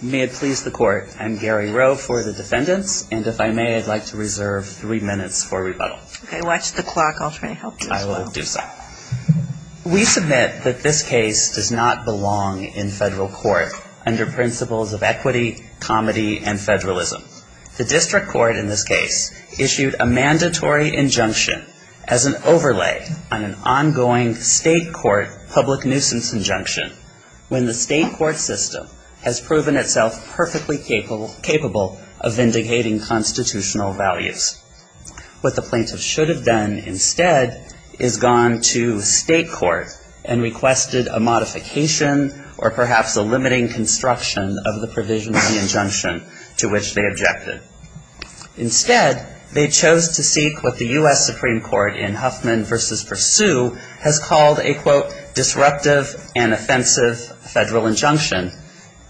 May it please the court. I'm Gary Rowe for the defendants and if I may I'd like to reserve three minutes for rebuttal Okay, watch the clock. I'll try to help you. I will do so We submit that this case does not belong in federal court under principles of equity Comedy and federalism the district court in this case issued a mandatory Injunction as an overlay on an ongoing state court public nuisance injunction When the state court system has proven itself perfectly capable capable of vindicating constitutional values What the plaintiff should have done instead is gone to state court and requested a modification Or perhaps a limiting construction of the provisional injunction to which they objected Instead they chose to seek what the US Supreme Court in Huffman versus pursue has called a quote Disruptive and offensive federal injunction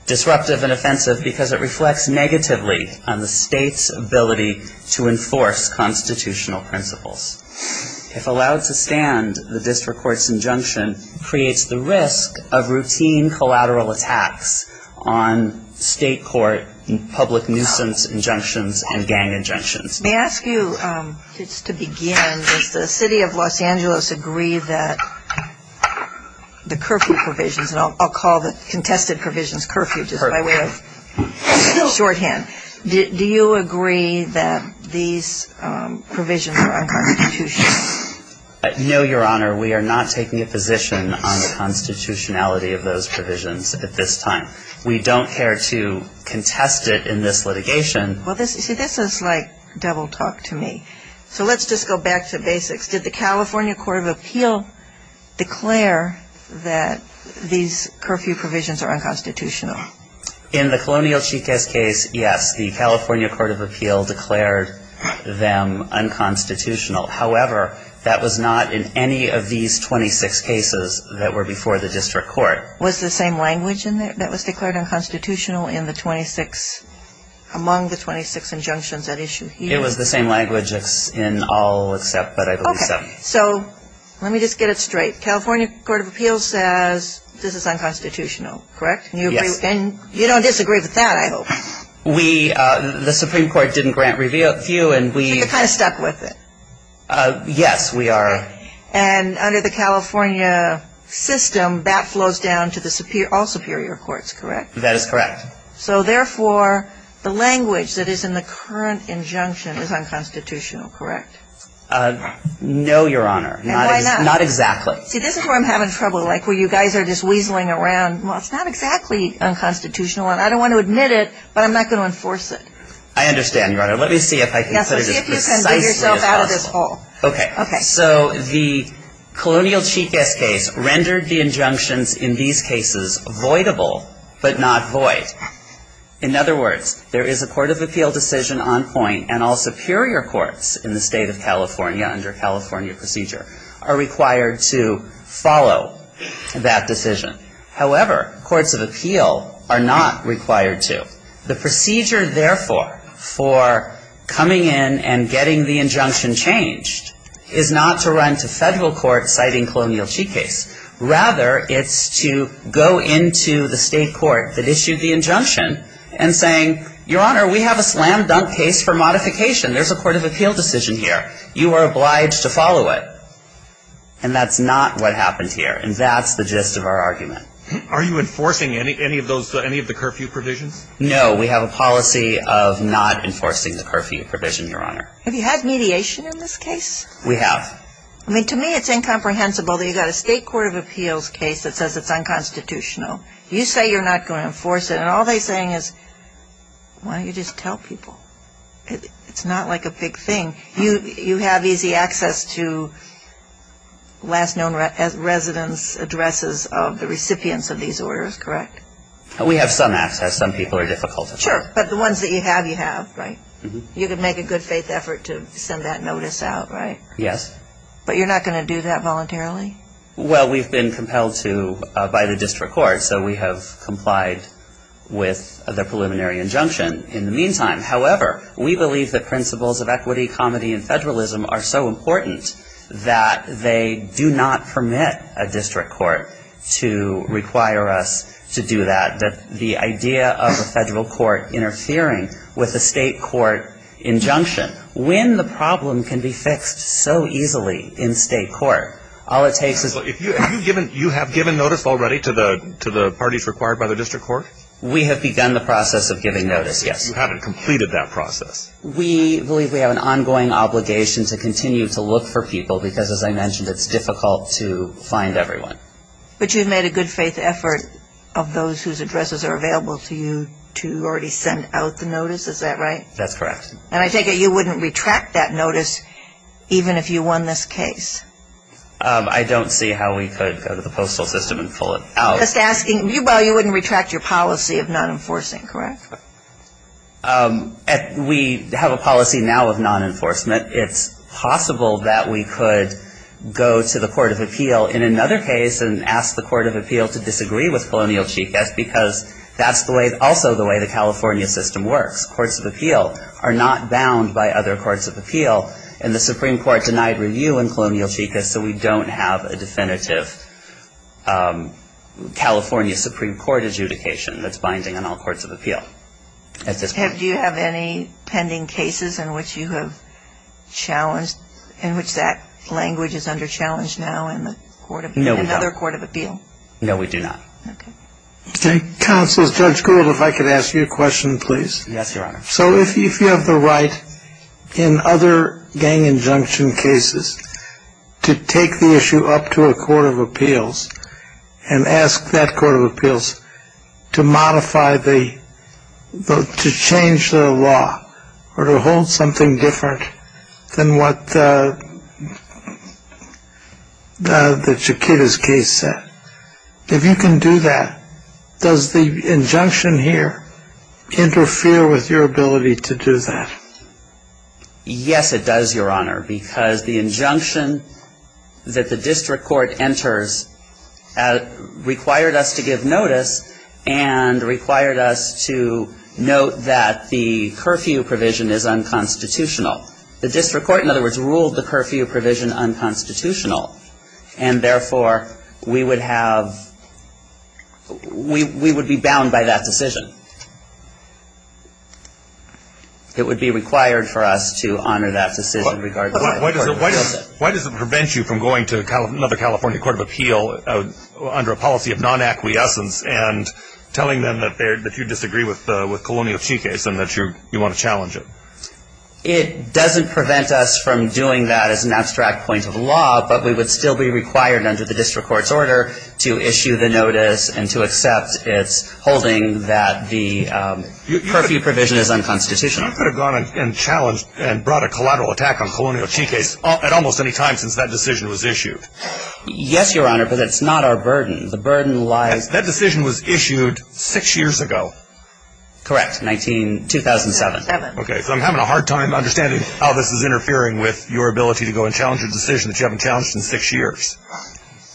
Disruptive and offensive because it reflects negatively on the state's ability to enforce constitutional principles If allowed to stand the district courts injunction creates the risk of routine collateral attacks on state court public nuisance injunctions and gang injunctions May I ask you just to begin does the city of Los Angeles agree that The curfew provisions and I'll call the contested provisions curfew just by way of shorthand, do you agree that these provisions are unconstitutional No, your honor. We are not taking a position on the Constitutionality of those provisions at this time. We don't care to Contest it in this litigation. Well, this is like double talk to me. So let's just go back to basics Did the California Court of Appeal? declare that These curfew provisions are unconstitutional in the colonial chicas case. Yes, the California Court of Appeal declared them Unconstitutional. However, that was not in any of these 26 cases that were before the district court was the same language in there That was declared unconstitutional in the 26 Among the 26 injunctions at issue. It was the same language in all except but I don't know So, let me just get it straight California Court of Appeals says this is unconstitutional, correct? Yes, and you don't disagree with that. I hope we the Supreme Court didn't grant review and we kind of stuck with it Yes, we are and under the California System that flows down to the superior all superior courts, correct? That is correct So therefore the language that is in the current injunction is unconstitutional, correct? No, your honor, not not exactly see this is where I'm having trouble like where you guys are just weaseling around Well, it's not exactly unconstitutional and I don't want to admit it, but I'm not going to enforce it. I understand your honor Let me see if I can Okay, okay. So the Colonial chicas case rendered the injunctions in these cases avoidable, but not void In other words There is a Court of Appeal decision on point and all superior courts in the state of California under California procedure are required to follow that decision however courts of appeal are not required to the procedure therefore for Coming in and getting the injunction changed is not to run to federal court citing colonial chicas Rather it's to go into the state court that issued the injunction and saying your honor We have a slam-dunk case for modification. There's a Court of Appeal decision here. You are obliged to follow it and That's not what happened here. And that's the gist of our argument. Are you enforcing any any of those any of the curfew provisions? No, we have a policy of not enforcing the curfew provision your honor. Have you had mediation in this case? We have I mean to me it's incomprehensible that you got a state Court of Appeals case that says it's unconstitutional you say you're not going to enforce it and all they saying is Why don't you just tell people? It's not like a big thing. You you have easy access to Last known as residents addresses of the recipients of these orders, correct? We have some access some people are difficult to sure but the ones that you have you have right? You could make a good-faith effort to send that notice out, right? Yes, but you're not going to do that voluntarily Well, we've been compelled to by the district court. So we have complied With the preliminary injunction in the meantime however We believe that principles of equity comedy and federalism are so important that they do not permit a district court To require us to do that that the idea of a federal court Interfering with the state court injunction when the problem can be fixed so easily in state court all it takes is You have given notice already to the to the parties required by the district court. We have begun the process of giving notice Yes, you haven't completed that process We believe we have an ongoing obligation to continue to look for people because as I mentioned it's difficult to find everyone But you've made a good-faith effort of those whose addresses are available to you to already send out the notice, is that right? That's correct. And I take it you wouldn't retract that notice Even if you won this case I don't see how we could go to the postal system and pull it out. Just asking you Well, you wouldn't retract your policy of non-enforcing, correct? We have a policy now of non-enforcement it's possible that we could Go to the Court of Appeal in another case and ask the Court of Appeal to disagree with Colonial Chica's because That's the way also the way the California system works. Courts of Appeal are not bound by other courts of appeal and the Supreme Court Denied review in Colonial Chica's so we don't have a definitive California Supreme Court adjudication that's binding on all courts of appeal. Do you have any pending cases in which you have Challenged in which that language is under challenge now in the court of another court of appeal? No, we do not Okay, counsel's judge Gould if I could ask you a question, please. Yes, Your Honor. So if you have the right in other gang injunction cases to take the issue up to a court of appeals and ask that court of appeals to modify the To change the law or to hold something different than what The Chiquita's case said if you can do that does the injunction here Interfere with your ability to do that Yes, it does your honor because the injunction that the district court enters Required us to give notice and required us to Note that the curfew provision is unconstitutional the district court in other words ruled the curfew provision unconstitutional and therefore we would have We we would be bound by that decision It would be required for us to honor that decision Why does it prevent you from going to another California Court of Appeal? under a policy of non-acquiescence and Telling them that they're that you disagree with with Colonial Chiquita's and that you you want to challenge it It doesn't prevent us from doing that as an abstract point of law but we would still be required under the district court's order to issue the notice and to accept its holding that the curfew provision is unconstitutional Challenged and brought a collateral attack on Colonial Chiquita's at almost any time since that decision was issued Yes, your honor, but it's not our burden the burden lies that decision was issued six years ago correct 1927 okay So I'm having a hard time understanding how this is interfering with your ability to go and challenge a decision that you haven't challenged in six years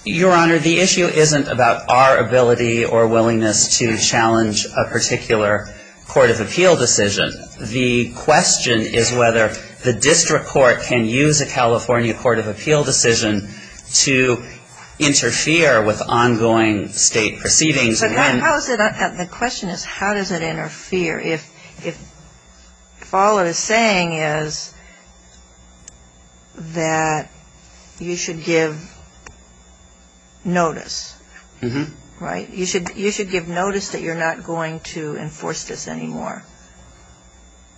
Your honor the issue isn't about our ability or willingness to challenge a particular Court of Appeal decision the question is whether the district court can use a California Court of Appeal decision to Interfere with ongoing state proceedings. The question is how does it interfere if if if all it is saying is That you should give Notice mm-hmm right you should you should give notice that you're not going to enforce this anymore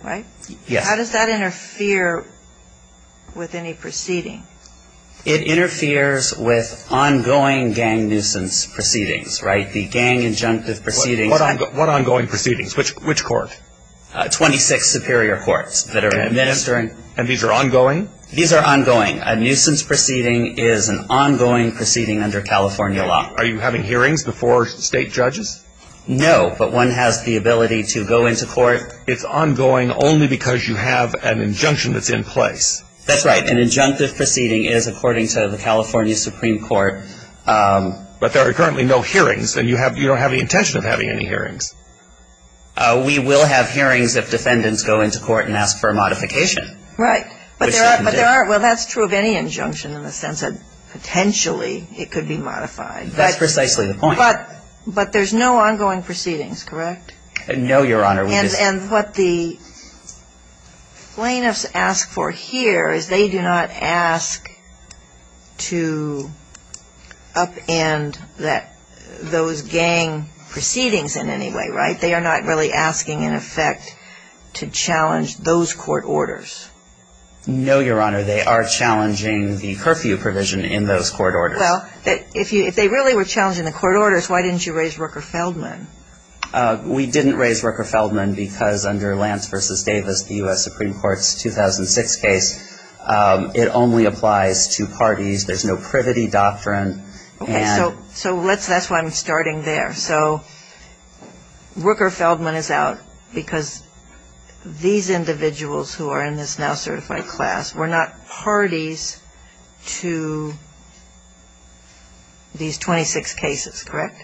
Right. Yes, how does that interfere? With any proceeding it interferes with ongoing gang nuisance proceedings, right the gang Injunctive proceeding what ongoing proceedings which which court? 26 superior courts that are administering and these are ongoing These are ongoing a nuisance proceeding is an ongoing proceeding under California law. Are you having hearings before state judges? No, but one has the ability to go into court it's ongoing only because you have an injunction that's in place That's right an injunctive proceeding is according to the California Supreme Court But there are currently no hearings and you have you don't have any intention of having any hearings We will have hearings if defendants go into court and ask for a modification, right? Well, that's true of any injunction in the sense of potentially it could be modified Precisely the point but but there's no ongoing proceedings, correct? No, your honor. Yes, and what the Plaintiffs asked for here is they do not ask to Up and that those gang Proceedings in any way, right? They are not really asking in effect to challenge those court orders No, your honor, they are challenging the curfew provision in those court order Well that if you if they really were challenging the court orders, why didn't you raise Rooker Feldman? We didn't raise Rooker Feldman because under Lance versus Davis the US Supreme Court's 2006 case It only applies to parties. There's no privity doctrine. Okay, so so let's that's why I'm starting there. So Rooker Feldman is out because These individuals who are in this now certified class were not parties to These 26 cases, correct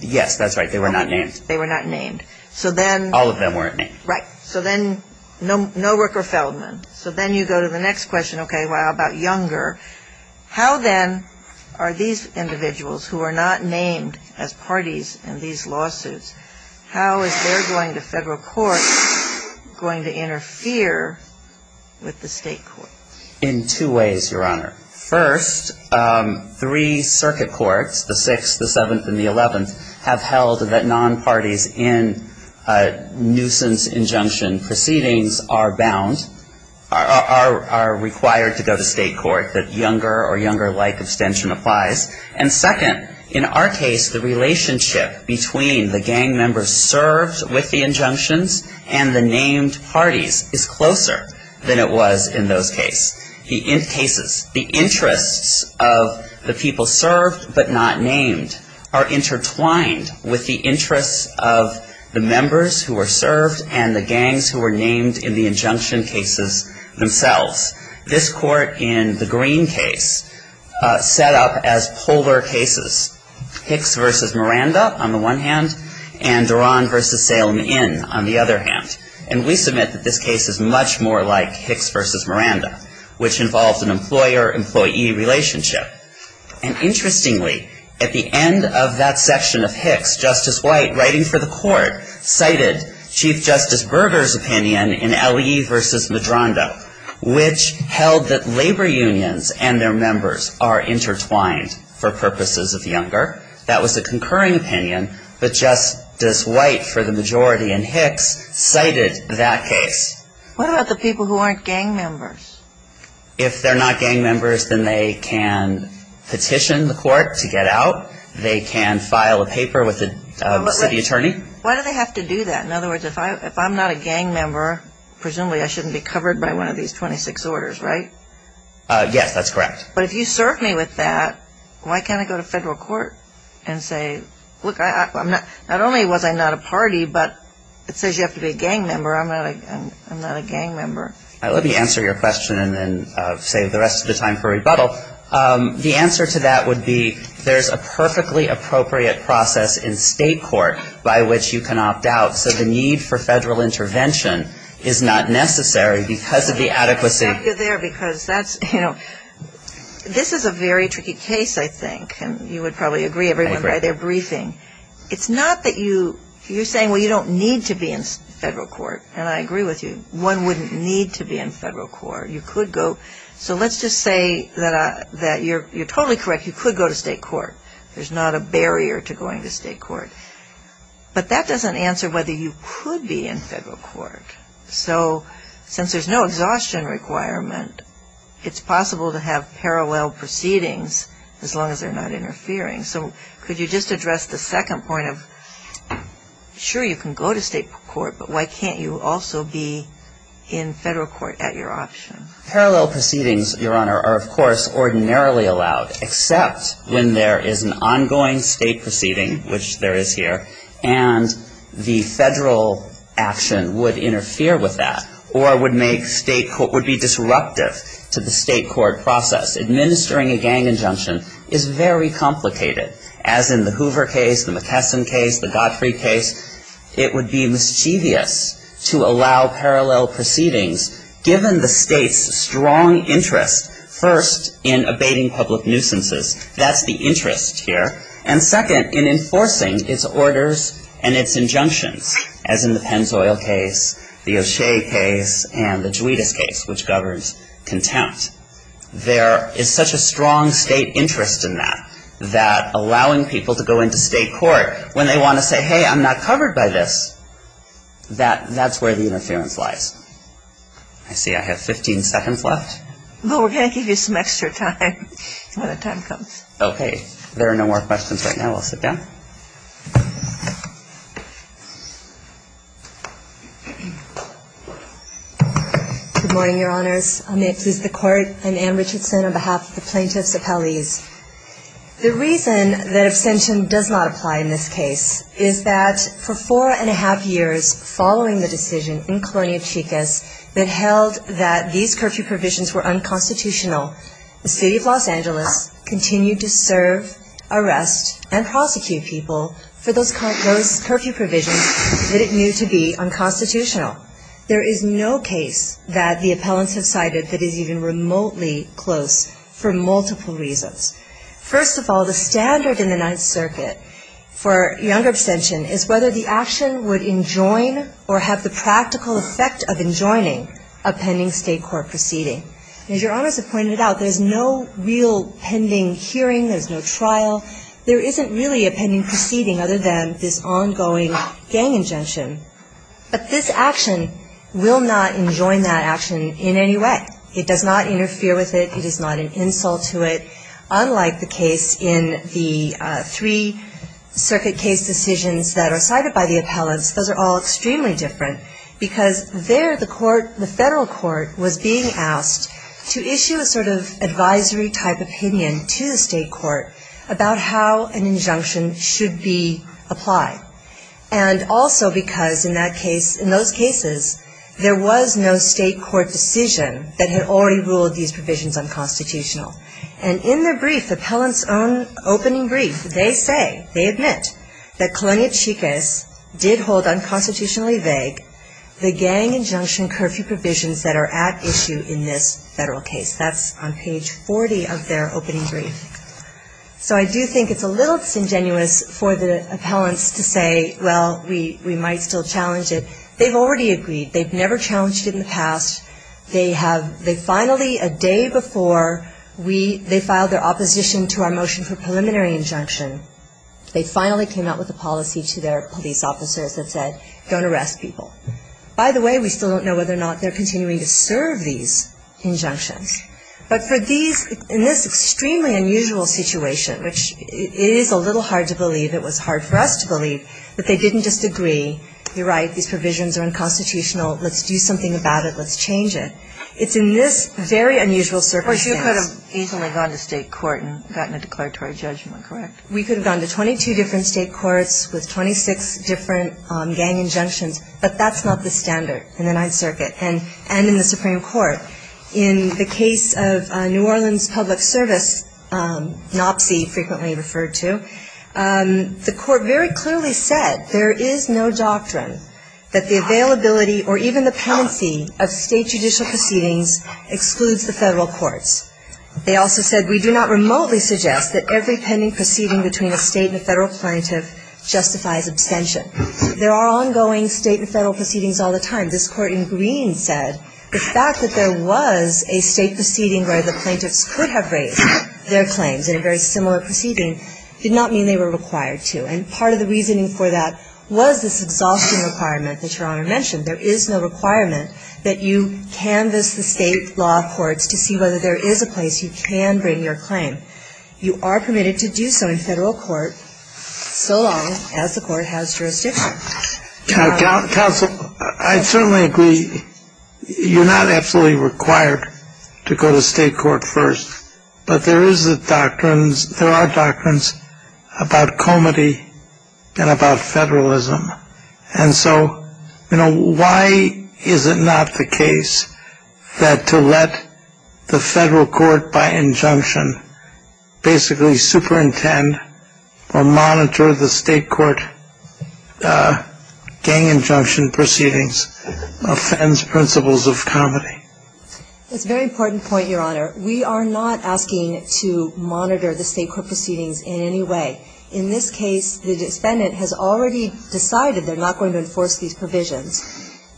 Yes, that's right. They were not names. They were not named. So then all of them weren't right So then no no Rooker Feldman. So then you go to the next question. Okay. Well about younger How then are these individuals who are not named as parties in these lawsuits? How is they're going to federal court going to interfere With the state court in two ways your honor first three circuit courts the sixth the seventh and the eleventh have held that non parties in nuisance injunction proceedings are bound are Required to go to state court that younger or younger like abstention applies and second in our case the Relationship between the gang members served with the injunctions and the named parties is closer Than it was in those case he in cases the interests of the people served but not named are intertwined with the interests of The members who were served and the gangs who were named in the injunction cases themselves this court in the green case Set up as polar cases Hicks versus Miranda on the one hand and Duran versus Salem in on the other hand and we submit that this case is much more like Hicks versus Miranda which involved an employer-employee relationship and Interestingly at the end of that section of Hicks justice white writing for the court Cited chief justice burgers opinion in le versus Medrondo Which held that labor unions and their members are intertwined for purposes of younger That was the concurring opinion, but justice white for the majority and Hicks cited that case What about the people who aren't gang members? If they're not gang members, then they can Petition the court to get out they can file a paper with the city attorney Why do they have to do that in other words if I if I'm not a gang member? Presumably I shouldn't be covered by one of these 26 orders, right? Yes, that's correct. But if you serve me with that, why can't I go to federal court and say look? I'm not not only was I not a party, but it says you have to be a gang member. I'm not I'm not a gang member I let me answer your question and save the rest of the time for rebuttal The answer to that would be there's a perfectly appropriate process in state court by which you can opt out So the need for federal intervention is not necessary because of the adequacy This is a very tricky case I think and you would probably agree everyone by their briefing It's not that you you're saying well You don't need to be in federal court and I agree with you one wouldn't need to be in federal court You could go so let's just say that I that you're you're totally correct. You could go to state court There's not a barrier to going to state court But that doesn't answer whether you could be in federal court so since there's no exhaustion requirement It's possible to have parallel proceedings as long as they're not interfering. So could you just address the second point of? Sure, you can go to state court, but why can't you also be in federal court at your option parallel proceedings? Your honor are of course ordinarily allowed except when there is an ongoing state proceeding which there is here and the federal Action would interfere with that or would make state court would be disruptive to the state court process Administering a gang injunction is very complicated as in the Hoover case the McKesson case the Godfrey case It would be mischievous to allow parallel proceedings Given the state's strong interest first in abating public nuisances That's the interest here and second in enforcing its orders and its injunctions as in the Pennzoil case The O'Shea case and the Juarez case which governs contempt There is such a strong state interest in that that allowing people to go into state court when they want to say hey I'm not covered by this That that's where the interference lies. I Okay, there are no more questions right now, I'll sit down Good morning your honors. I'm it is the court and Anne Richardson on behalf of the plaintiffs of Hallease The reason that abstention does not apply in this case is that for four and a half years Following the decision in colonial chicas that held that these curfew provisions were unconstitutional The city of Los Angeles Continued to serve arrest and prosecute people for those current those curfew provisions that it knew to be unconstitutional There is no case that the appellants have cited that is even remotely close for multiple reasons First of all the standard in the Ninth Circuit For younger abstention is whether the action would enjoin or have the practical effect of enjoining a pending state court Proceeding as your honors have pointed out. There's no real pending hearing. There's no trial There isn't really a pending proceeding other than this ongoing gang injunction But this action will not enjoin that action in any way it does not interfere with it It is not an insult to it unlike the case in the three Circuit case decisions that are cited by the appellants Those are all extremely different because there the court the federal court was being asked to issue a sort of advisory type opinion to the state court about how an injunction should be applied and Also, because in that case in those cases There was no state court decision that had already ruled these provisions unconstitutional and in their brief appellants own Opening brief they say they admit that colonial chicas did hold unconstitutionally vague The gang injunction curfew provisions that are at issue in this federal case. That's on page 40 of their opening brief So I do think it's a little disingenuous for the appellants to say well, we we might still challenge it They've already agreed. They've never challenged in the past They have they finally a day before we they filed their opposition to our motion for preliminary injunction They finally came out with a policy to their police officers that said don't arrest people By the way, we still don't know whether or not they're continuing to serve these Injunctions, but for these in this extremely unusual situation, which is a little hard to believe It was hard for us to believe that they didn't just agree. You're right. These provisions are unconstitutional. Let's do something about it Let's change it. It's in this very unusual surface You could have easily gone to state court and gotten a declaratory judgment, correct? We could have gone to 22 different state courts with 26 different gang injunctions But that's not the standard in the Ninth Circuit and and in the Supreme Court in the case of New Orleans Public Service nopsy frequently referred to The court very clearly said there is no doctrine that the availability or even the penancy of state judicial proceedings excludes the federal courts They also said we do not remotely suggest that every pending proceeding between a state and federal plaintiff Justifies abstention. There are ongoing state and federal proceedings all the time This court in green said the fact that there was a state proceeding where the plaintiffs could have raised Their claims in a very similar proceeding Did not mean they were required to and part of the reasoning for that was this exhausting requirement that your honor mentioned There is no requirement that you canvass the state law courts to see whether there is a place you can bring your claim You are permitted to do so in federal court So long as the court has jurisdiction Counsel I certainly agree You're not absolutely required to go to state court first, but there is the doctrines there are doctrines about comedy and about federalism and so, you know, why is it not the case that to let the federal court by injunction Basically superintend or monitor the state court Gang injunction proceedings Offends principles of comedy It's very important point your honor We are not asking to monitor the state court proceedings in any way in this case The defendant has already decided they're not going to enforce these provisions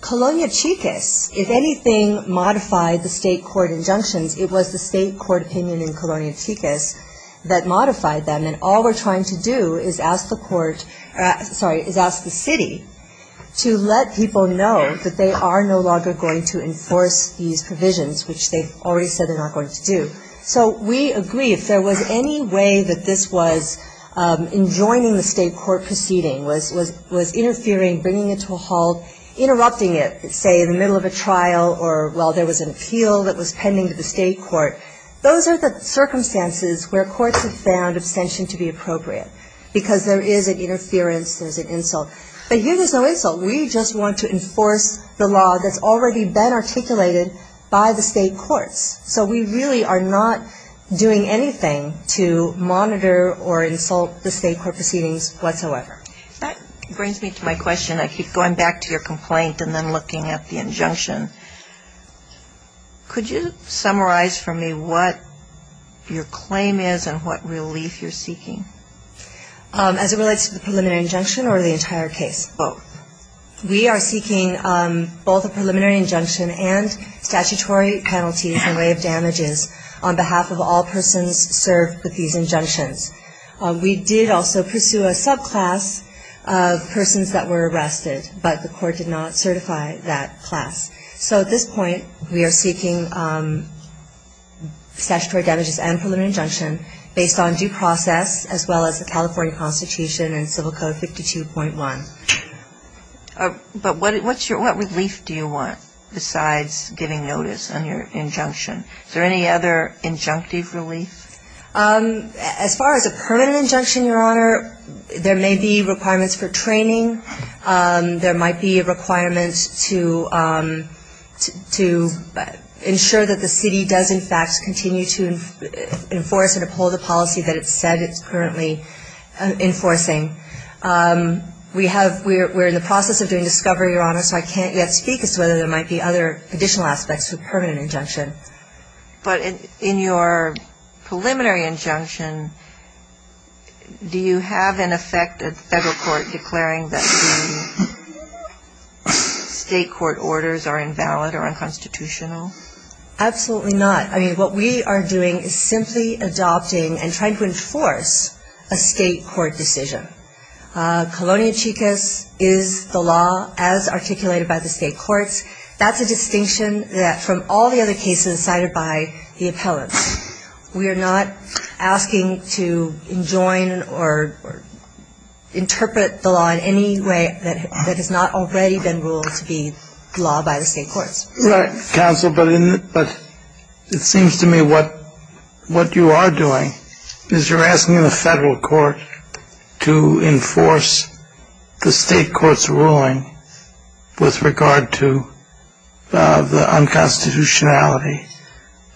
Colonial chicas if anything modified the state court injunctions It was the state court opinion in colonial chicas that modified them and all we're trying to do is ask the court Sorry is ask the city To let people know that they are no longer going to enforce these provisions Which they've already said they're not going to do so. We agree if there was any way that this was Enjoining the state court proceeding was was was interfering bringing it to a halt Interrupting it say in the middle of a trial or while there was an appeal that was pending to the state court Those are the circumstances where courts have found abstention to be appropriate because there is an interference There's an insult, but here there's no insult. We just want to enforce the law. That's already been articulated by the state courts So we really are not doing anything to monitor or insult the state court proceedings whatsoever Brings me to my question. I keep going back to your complaint and then looking at the injunction Could you summarize for me what your claim is and what relief you're seeking As it relates to the preliminary injunction or the entire case. Oh We are seeking both a preliminary injunction and statutory Penalties and way of damages on behalf of all persons served with these injunctions We did also pursue a subclass of Persons that were arrested but the court did not certify that class So at this point we are seeking Statutory damages and preliminary injunction based on due process as well as the California Constitution and civil code 52.1 But what what's your what relief do you want besides giving notice on your injunction is there any other injunctive relief As far as a permanent injunction your honor there may be requirements for training there might be a requirement to To ensure that the city does in fact continue to enforce and uphold the policy that it said it's currently enforcing We have we're in the process of doing discovery your honor So I can't yet speak as to whether there might be other additional aspects to a permanent injunction but in your preliminary injunction Do you have an effect at the federal court declaring that? State court orders are invalid or unconstitutional Absolutely not. I mean what we are doing is simply adopting and trying to enforce a state court decision Colonia chicas is the law as articulated by the state courts That's a distinction that from all the other cases cited by the appellants. We are not asking to enjoin or Interpret the law in any way that that has not already been ruled to be law by the state courts Right counsel, but in but it seems to me what? What you are doing is you're asking in the federal court to enforce the state courts ruling with regard to the unconstitutionality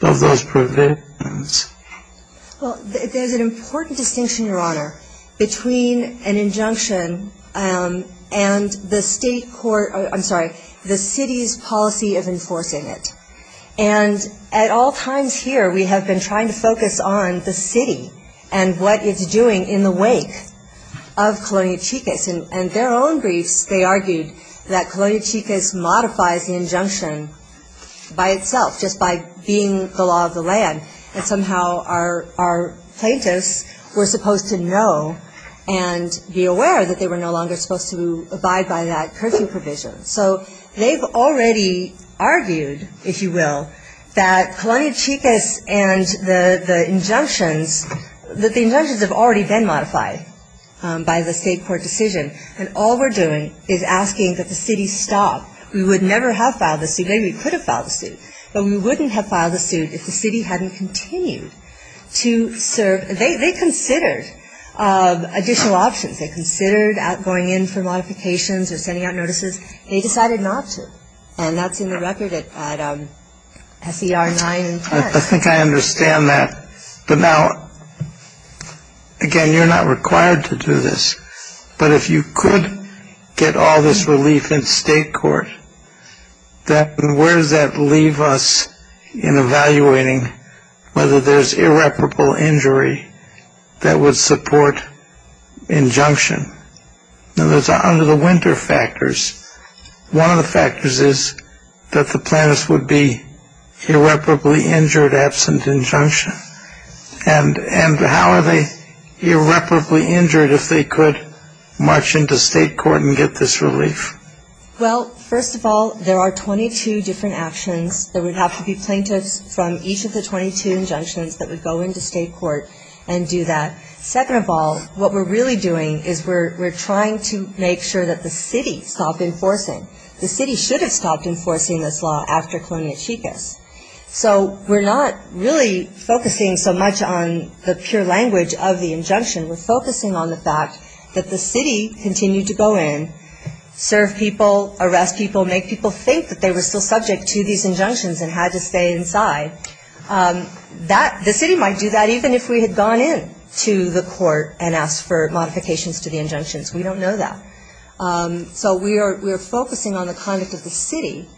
of those provisions Well, there's an important distinction your honor between an injunction and the state court, I'm sorry the city's policy of enforcing it and At all times here. We have been trying to focus on the city and what it's doing in the wake of Colonia chicas and their own briefs. They argued that Colonia chicas modifies the injunction By itself just by being the law of the land and somehow our plaintiffs were supposed to know and Be aware that they were no longer supposed to abide by that curfew provision. So they've already Argued if you will that Colonia chicas and the the injunctions that the injunctions have already been modified By the state court decision and all we're doing is asking that the city stop We would never have filed the suit Maybe we could have filed a suit, but we wouldn't have filed a suit if the city hadn't continued to serve. They considered Additional options they considered at going in for modifications or sending out notices. They decided not to and that's in the record SER 9 and 10. I think I understand that but now Again you're not required to do this But if you could get all this relief in state court Then where does that leave us in? Evaluating whether there's irreparable injury that would support injunction now there's under the winter factors one of the factors is that the planners would be irreparably injured absent injunction and And how are they? Irreparably injured if they could march into state court and get this relief Well, first of all, there are 22 different actions There would have to be plaintiffs from each of the 22 injunctions that would go into state court and do that Second of all what we're really doing is we're trying to make sure that the city stopped enforcing The city should have stopped enforcing this law after colonia chicas So we're not really focusing so much on the pure language of the injunction We're focusing on the fact that the city continued to go in Serve people arrest people make people think that they were still subject to these injunctions and had to stay inside That the city might do that even if we had gone in to the court and asked for modifications to the injunctions We don't know that So we are we're focusing on the conduct of the city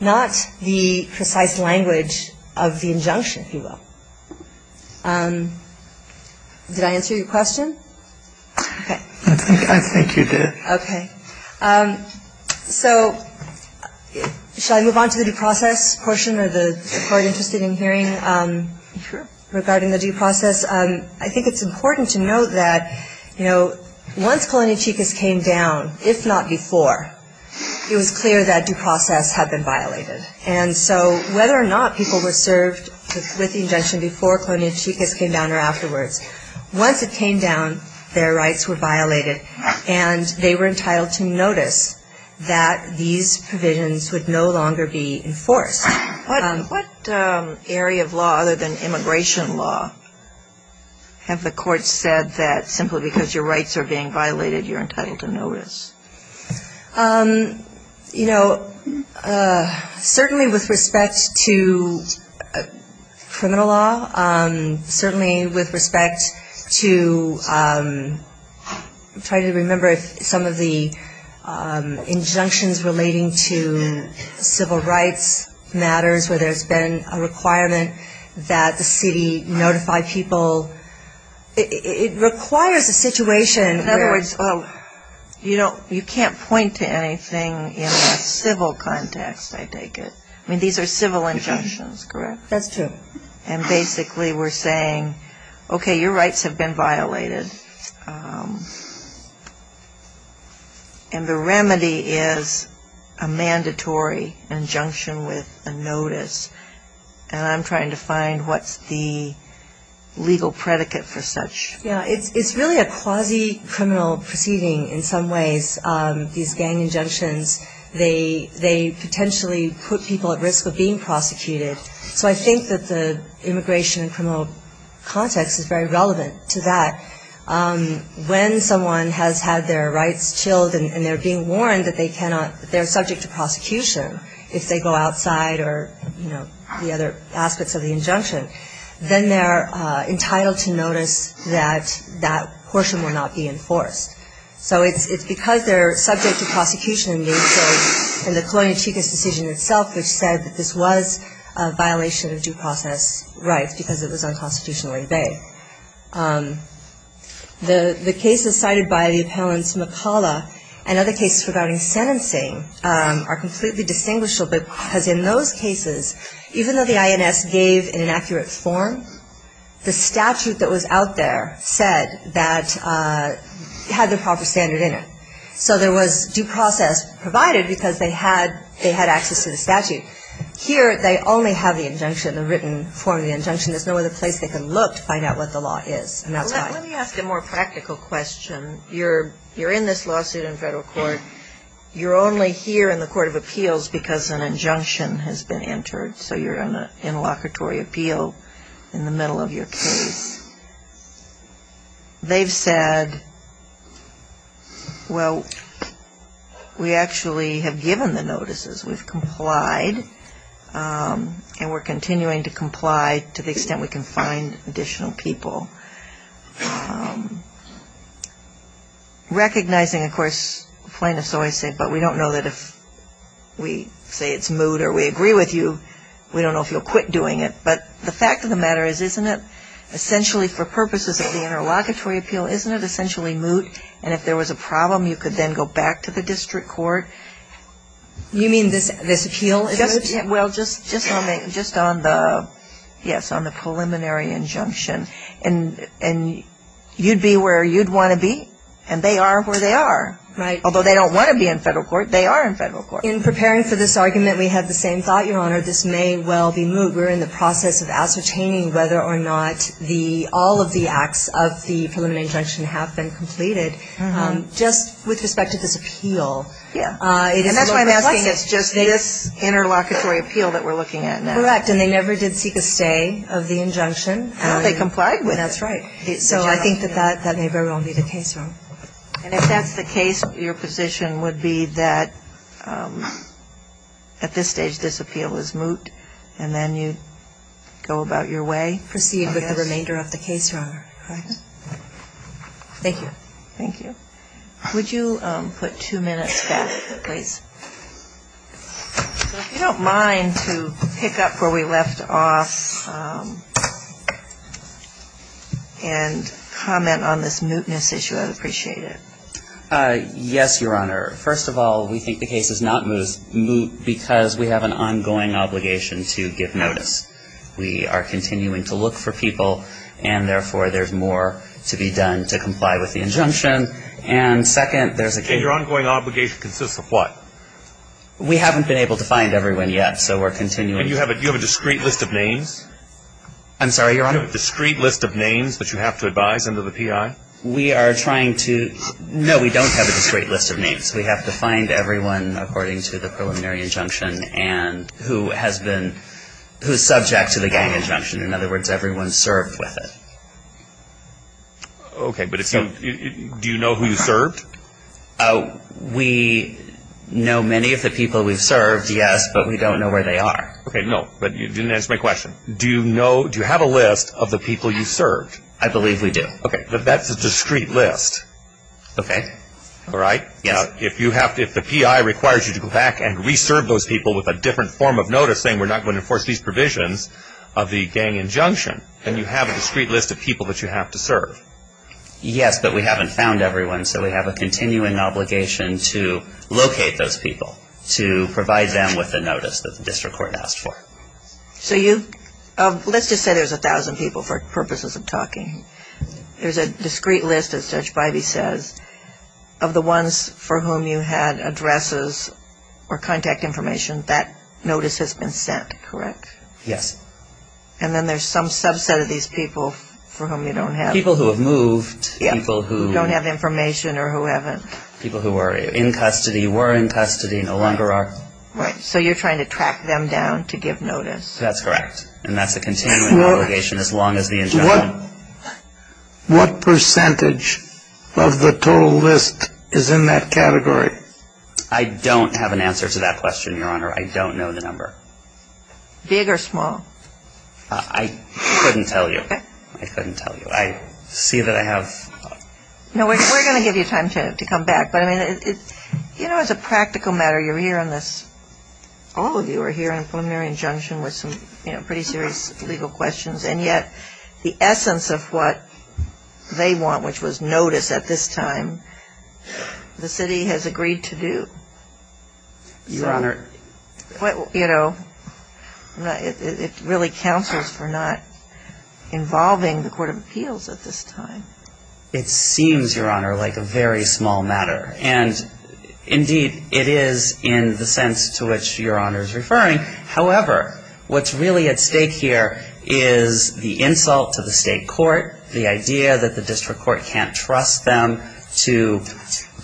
not the precise language of the injunction if you will Did I answer your question Okay So Shall I move on to the due process portion or the court interested in hearing? Regarding the due process. I think it's important to note that you know Once colonia chicas came down if not before It was clear that due process had been violated and so whether or not people were served With the injunction before colonia chicas came down or afterwards Once it came down their rights were violated and they were entitled to notice that These provisions would no longer be enforced Area of law other than immigration law Have the court said that simply because your rights are being violated you're entitled to notice You know Certainly with respect to Criminal law certainly with respect to Try to remember some of the injunctions relating to There's been a requirement that the city notify people It requires a situation in other words You know, you can't point to anything in a civil context. I take it. I mean, these are civil injunctions, correct? That's true. And basically we're saying Okay, your rights have been violated And the remedy is a And I'm trying to find what's the Legal predicate for such. Yeah, it's it's really a quasi criminal proceeding in some ways These gang injunctions. They they potentially put people at risk of being prosecuted So I think that the immigration and criminal Context is very relevant to that When someone has had their rights chilled and they're being warned that they cannot they're subject to prosecution If they go outside or you know the other aspects of the injunction then they're Entitled to notice that that portion will not be enforced So it's it's because they're subject to prosecution they say in the colonial chicas decision itself Which said that this was a violation of due process rights because it was unconstitutional in Bay The the cases cited by the appellants McCullough and other cases regarding sentencing Are completely distinguished a bit because in those cases even though the INS gave in an accurate form the statute that was out there said that Had the proper standard in it. So there was due process provided because they had they had access to the statute here They only have the injunction the written form the injunction There's no other place they can look to find out what the law is. And that's why let me ask a more practical question You're you're in this lawsuit in federal court You're only here in the Court of Appeals because an injunction has been entered. So you're in a in locatory appeal in the middle of your case They've said Well, we actually have given the notices we've complied And we're continuing to comply to the extent we can find additional people Recognizing of course plaintiffs always say but we don't know that if We say it's moot or we agree with you We don't know if you'll quit doing it But the fact of the matter is isn't it essentially for purposes of the interlocutory appeal? Isn't it essentially moot and if there was a problem you could then go back to the district court You mean this this appeal is just well just just on the just on the yes on the preliminary injunction and and You'd be where you'd want to be and they are where they are Right, although they don't want to be in federal court. They are in federal court in preparing for this argument We have the same thought your honor. This may well be moot We're in the process of ascertaining whether or not the all of the acts of the preliminary injunction have been completed Just with respect to this appeal, yeah It's just this Interlocutory appeal that we're looking at now act and they never did seek a stay of the injunction how they complied with that's right It's so I think that that that may very well be the case wrong and if that's the case your position would be that At this stage this appeal is moot and then you go about your way proceed with the remainder of the case wrong Thank you, thank you, would you put two minutes back, please? You don't mind to pick up where we left off And comment on this mootness issue I'd appreciate it Yes, your honor. First of all, we think the case is not moot because we have an ongoing obligation to give notice We are continuing to look for people and therefore there's more to be done to comply with the injunction and Second there's a your ongoing obligation consists of what? We haven't been able to find everyone yet. So we're continuing you have it. You have a discreet list of names I'm sorry, your honor discreet list of names, but you have to advise under the PI we are trying to No, we don't have a discreet list of names. We have to find everyone according to the preliminary injunction and who has been Who's subject to the gang injunction? In other words everyone served with it? Okay, but it's you do you know who you served oh we Know many of the people we've served. Yes, but we don't know where they are. Okay? No, but you didn't answer my question. Do you know do you have a list of the people you served? I believe we do. Okay, but that's a discreet list Okay. All right Yeah If you have to if the PI requires you to go back and reserve those people with a different form of notice saying we're not Going to enforce these provisions of the gang injunction and you have a discreet list of people that you have to serve Yes, but we haven't found everyone So we have a continuing obligation to locate those people to provide them with the notice that the district court asked for So you let's just say there's a thousand people for purposes of talking There's a discreet list as judge Biby says of the ones for whom you had addresses Or contact information that notice has been sent, correct? Yes, and then there's some subset of these people for whom you don't have people who have moved People who don't have information or who haven't people who were in custody were in custody no longer are right So you're trying to track them down to give notice. That's correct. And that's a continual obligation as long as the injunction What percentage of the total list is in that category? I don't have an answer to that question. Your honor. I don't know the number big or small I Couldn't tell you I couldn't tell you I see that I have No, we're gonna give you time to come back. But I mean, you know, it's a practical matter. You're here on this All of you are here in a preliminary injunction with some, you know, pretty serious legal questions. And yet the essence of what? They want which was notice at this time The city has agreed to do Your honor what you know? It really counsels for not Involving the Court of Appeals at this time. It seems your honor like a very small matter and Indeed it is in the sense to which your honor is referring However, what's really at stake here is the insult to the state court the idea that the district court can't trust them to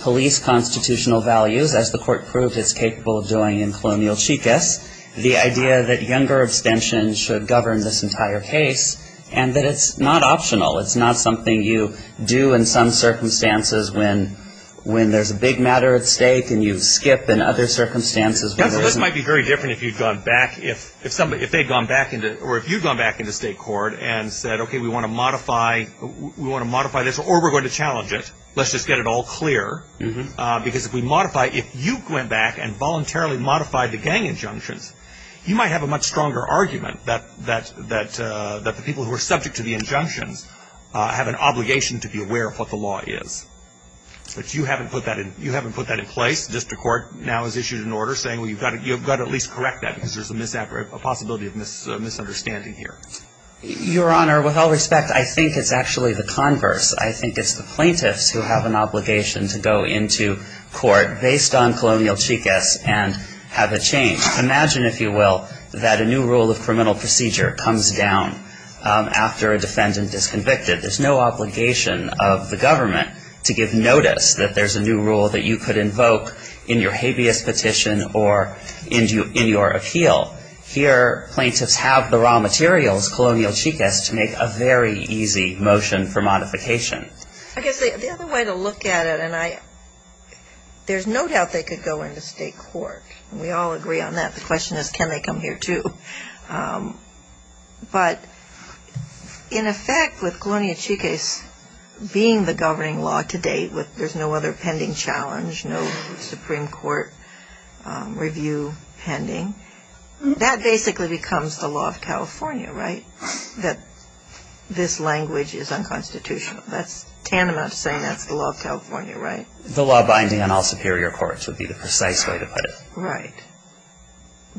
police constitutional values as the court proved is capable of doing in colonial chicas the idea that younger abstention should govern this Entire case and that it's not optional. It's not something you do in some circumstances when When there's a big matter at stake and you skip in other circumstances That might be very different if you've gone back if if somebody if they've gone back into or if you've gone back into state court And said, okay, we want to modify We want to modify this or we're going to challenge it Let's just get it all clear because if we modify if you went back and voluntarily modified the gang injunctions You might have a much stronger argument that that that that the people who are subject to the injunctions Have an obligation to be aware of what the law is But you haven't put that in you haven't put that in place District Court now has issued an order saying well You've got it. You've got at least correct that because there's a misapparate a possibility of miss misunderstanding here Your honor with all respect, I think it's actually the converse I think it's the plaintiffs who have an obligation to go into court based on colonial chicas and Have a change imagine if you will that a new rule of criminal procedure comes down After a defendant is convicted there's no obligation of the government to give notice that there's a new rule that you could invoke in your habeas petition or Into in your appeal here plaintiffs have the raw materials colonial chicas to make a very easy motion for modification There's no doubt they could go into state court we all agree on that the question is can they come here to But in effect with colonial chicas Being the governing law to date with there's no other pending challenge. No Supreme Court Review pending That basically becomes the law of California, right that This language is unconstitutional. That's Tana not saying that's the law of California, right? The law binding on all superior courts would be the precise way to put it, right?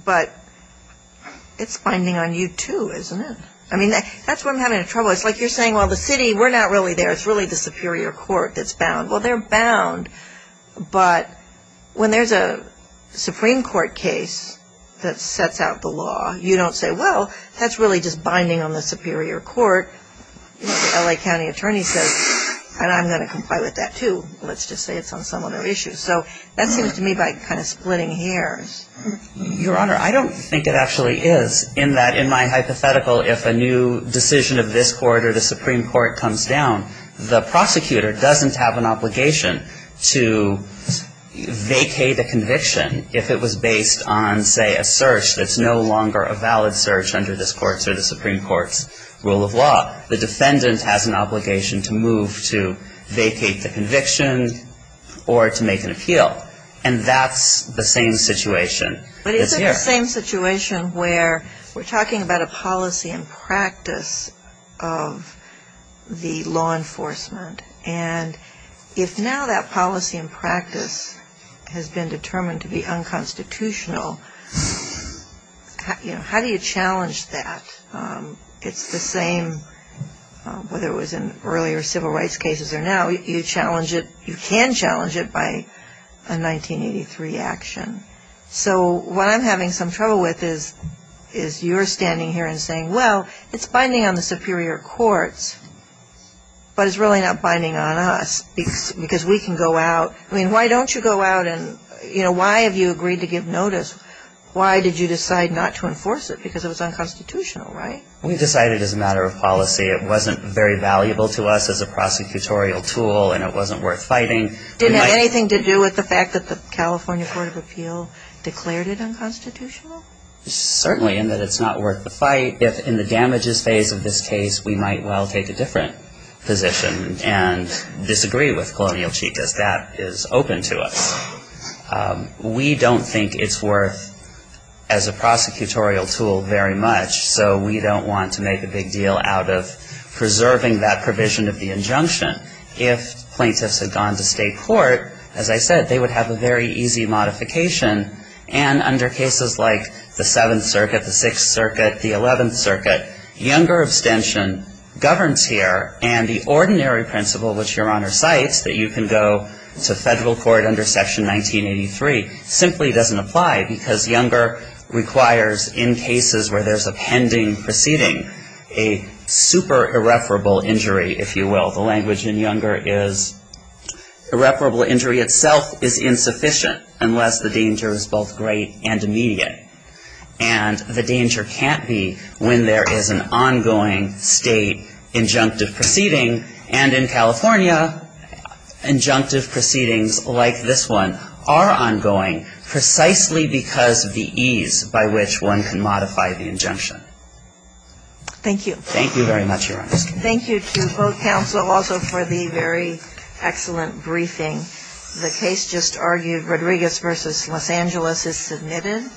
but It's finding on you too, isn't it? I mean that that's what I'm having trouble. It's like you're saying well the city We're not really there. It's really the Superior Court. That's bound. Well, they're bound but when there's a Supreme Court case that sets out the law. You don't say well, that's really just binding on the Superior Court La County Attorney says and I'm going to comply with that too. Let's just say it's on some other issues So that seems to me by kind of splitting hairs Your honor. I don't think it actually is in that in my hypothetical if a new decision of this quarter The Supreme Court comes down the prosecutor doesn't have an obligation to Vacate a conviction if it was based on say a search That's no longer a valid search under this courts or the Supreme Court's rule of law the defendant has an obligation to move to vacate the conviction or To make an appeal and that's the same situation but it's the same situation where we're talking about a policy and practice of The law enforcement and if now that policy and practice has been determined to be unconstitutional You know, how do you challenge that? It's the same whether it was in earlier civil rights cases or now you challenge it you can challenge it by a 1983 action So what I'm having some trouble with is is you're standing here and saying well, it's binding on the Superior Court But it's really not binding on us because because we can go out I mean, why don't you go out and you know, why have you agreed to give notice? Why did you decide not to enforce it because it was unconstitutional, right? We decided as a matter of policy It wasn't very valuable to us as a prosecutorial tool and it wasn't worth fighting Didn't anything to do with the fact that the California Court of Appeal declared it unconstitutional Certainly in that it's not worth the fight if in the damages phase of this case, we might well take a different position and Disagree with colonial cheek as that is open to us we don't think it's worth as a prosecutorial tool very much so we don't want to make a big deal out of preserving that provision of the injunction if Plaintiffs had gone to state court as I said, they would have a very easy modification and under cases like the 7th circuit the 6th circuit the 11th circuit Younger abstention Governs here and the ordinary principle which your honor cites that you can go to federal court under section 1983 simply doesn't apply because younger requires in cases where there's a pending proceeding a super irreparable injury if you will the language in younger is irreparable injury itself is insufficient unless the danger is both great and immediate The danger can't be when there is an ongoing state injunctive proceeding and in California Injunctive proceedings like this one are ongoing Precisely because of the ease by which one can modify the injunction Thank you. Thank you very much your honor. Thank you to both counsel also for the very excellent briefing the case just argued Rodriguez versus, Los Angeles is submitted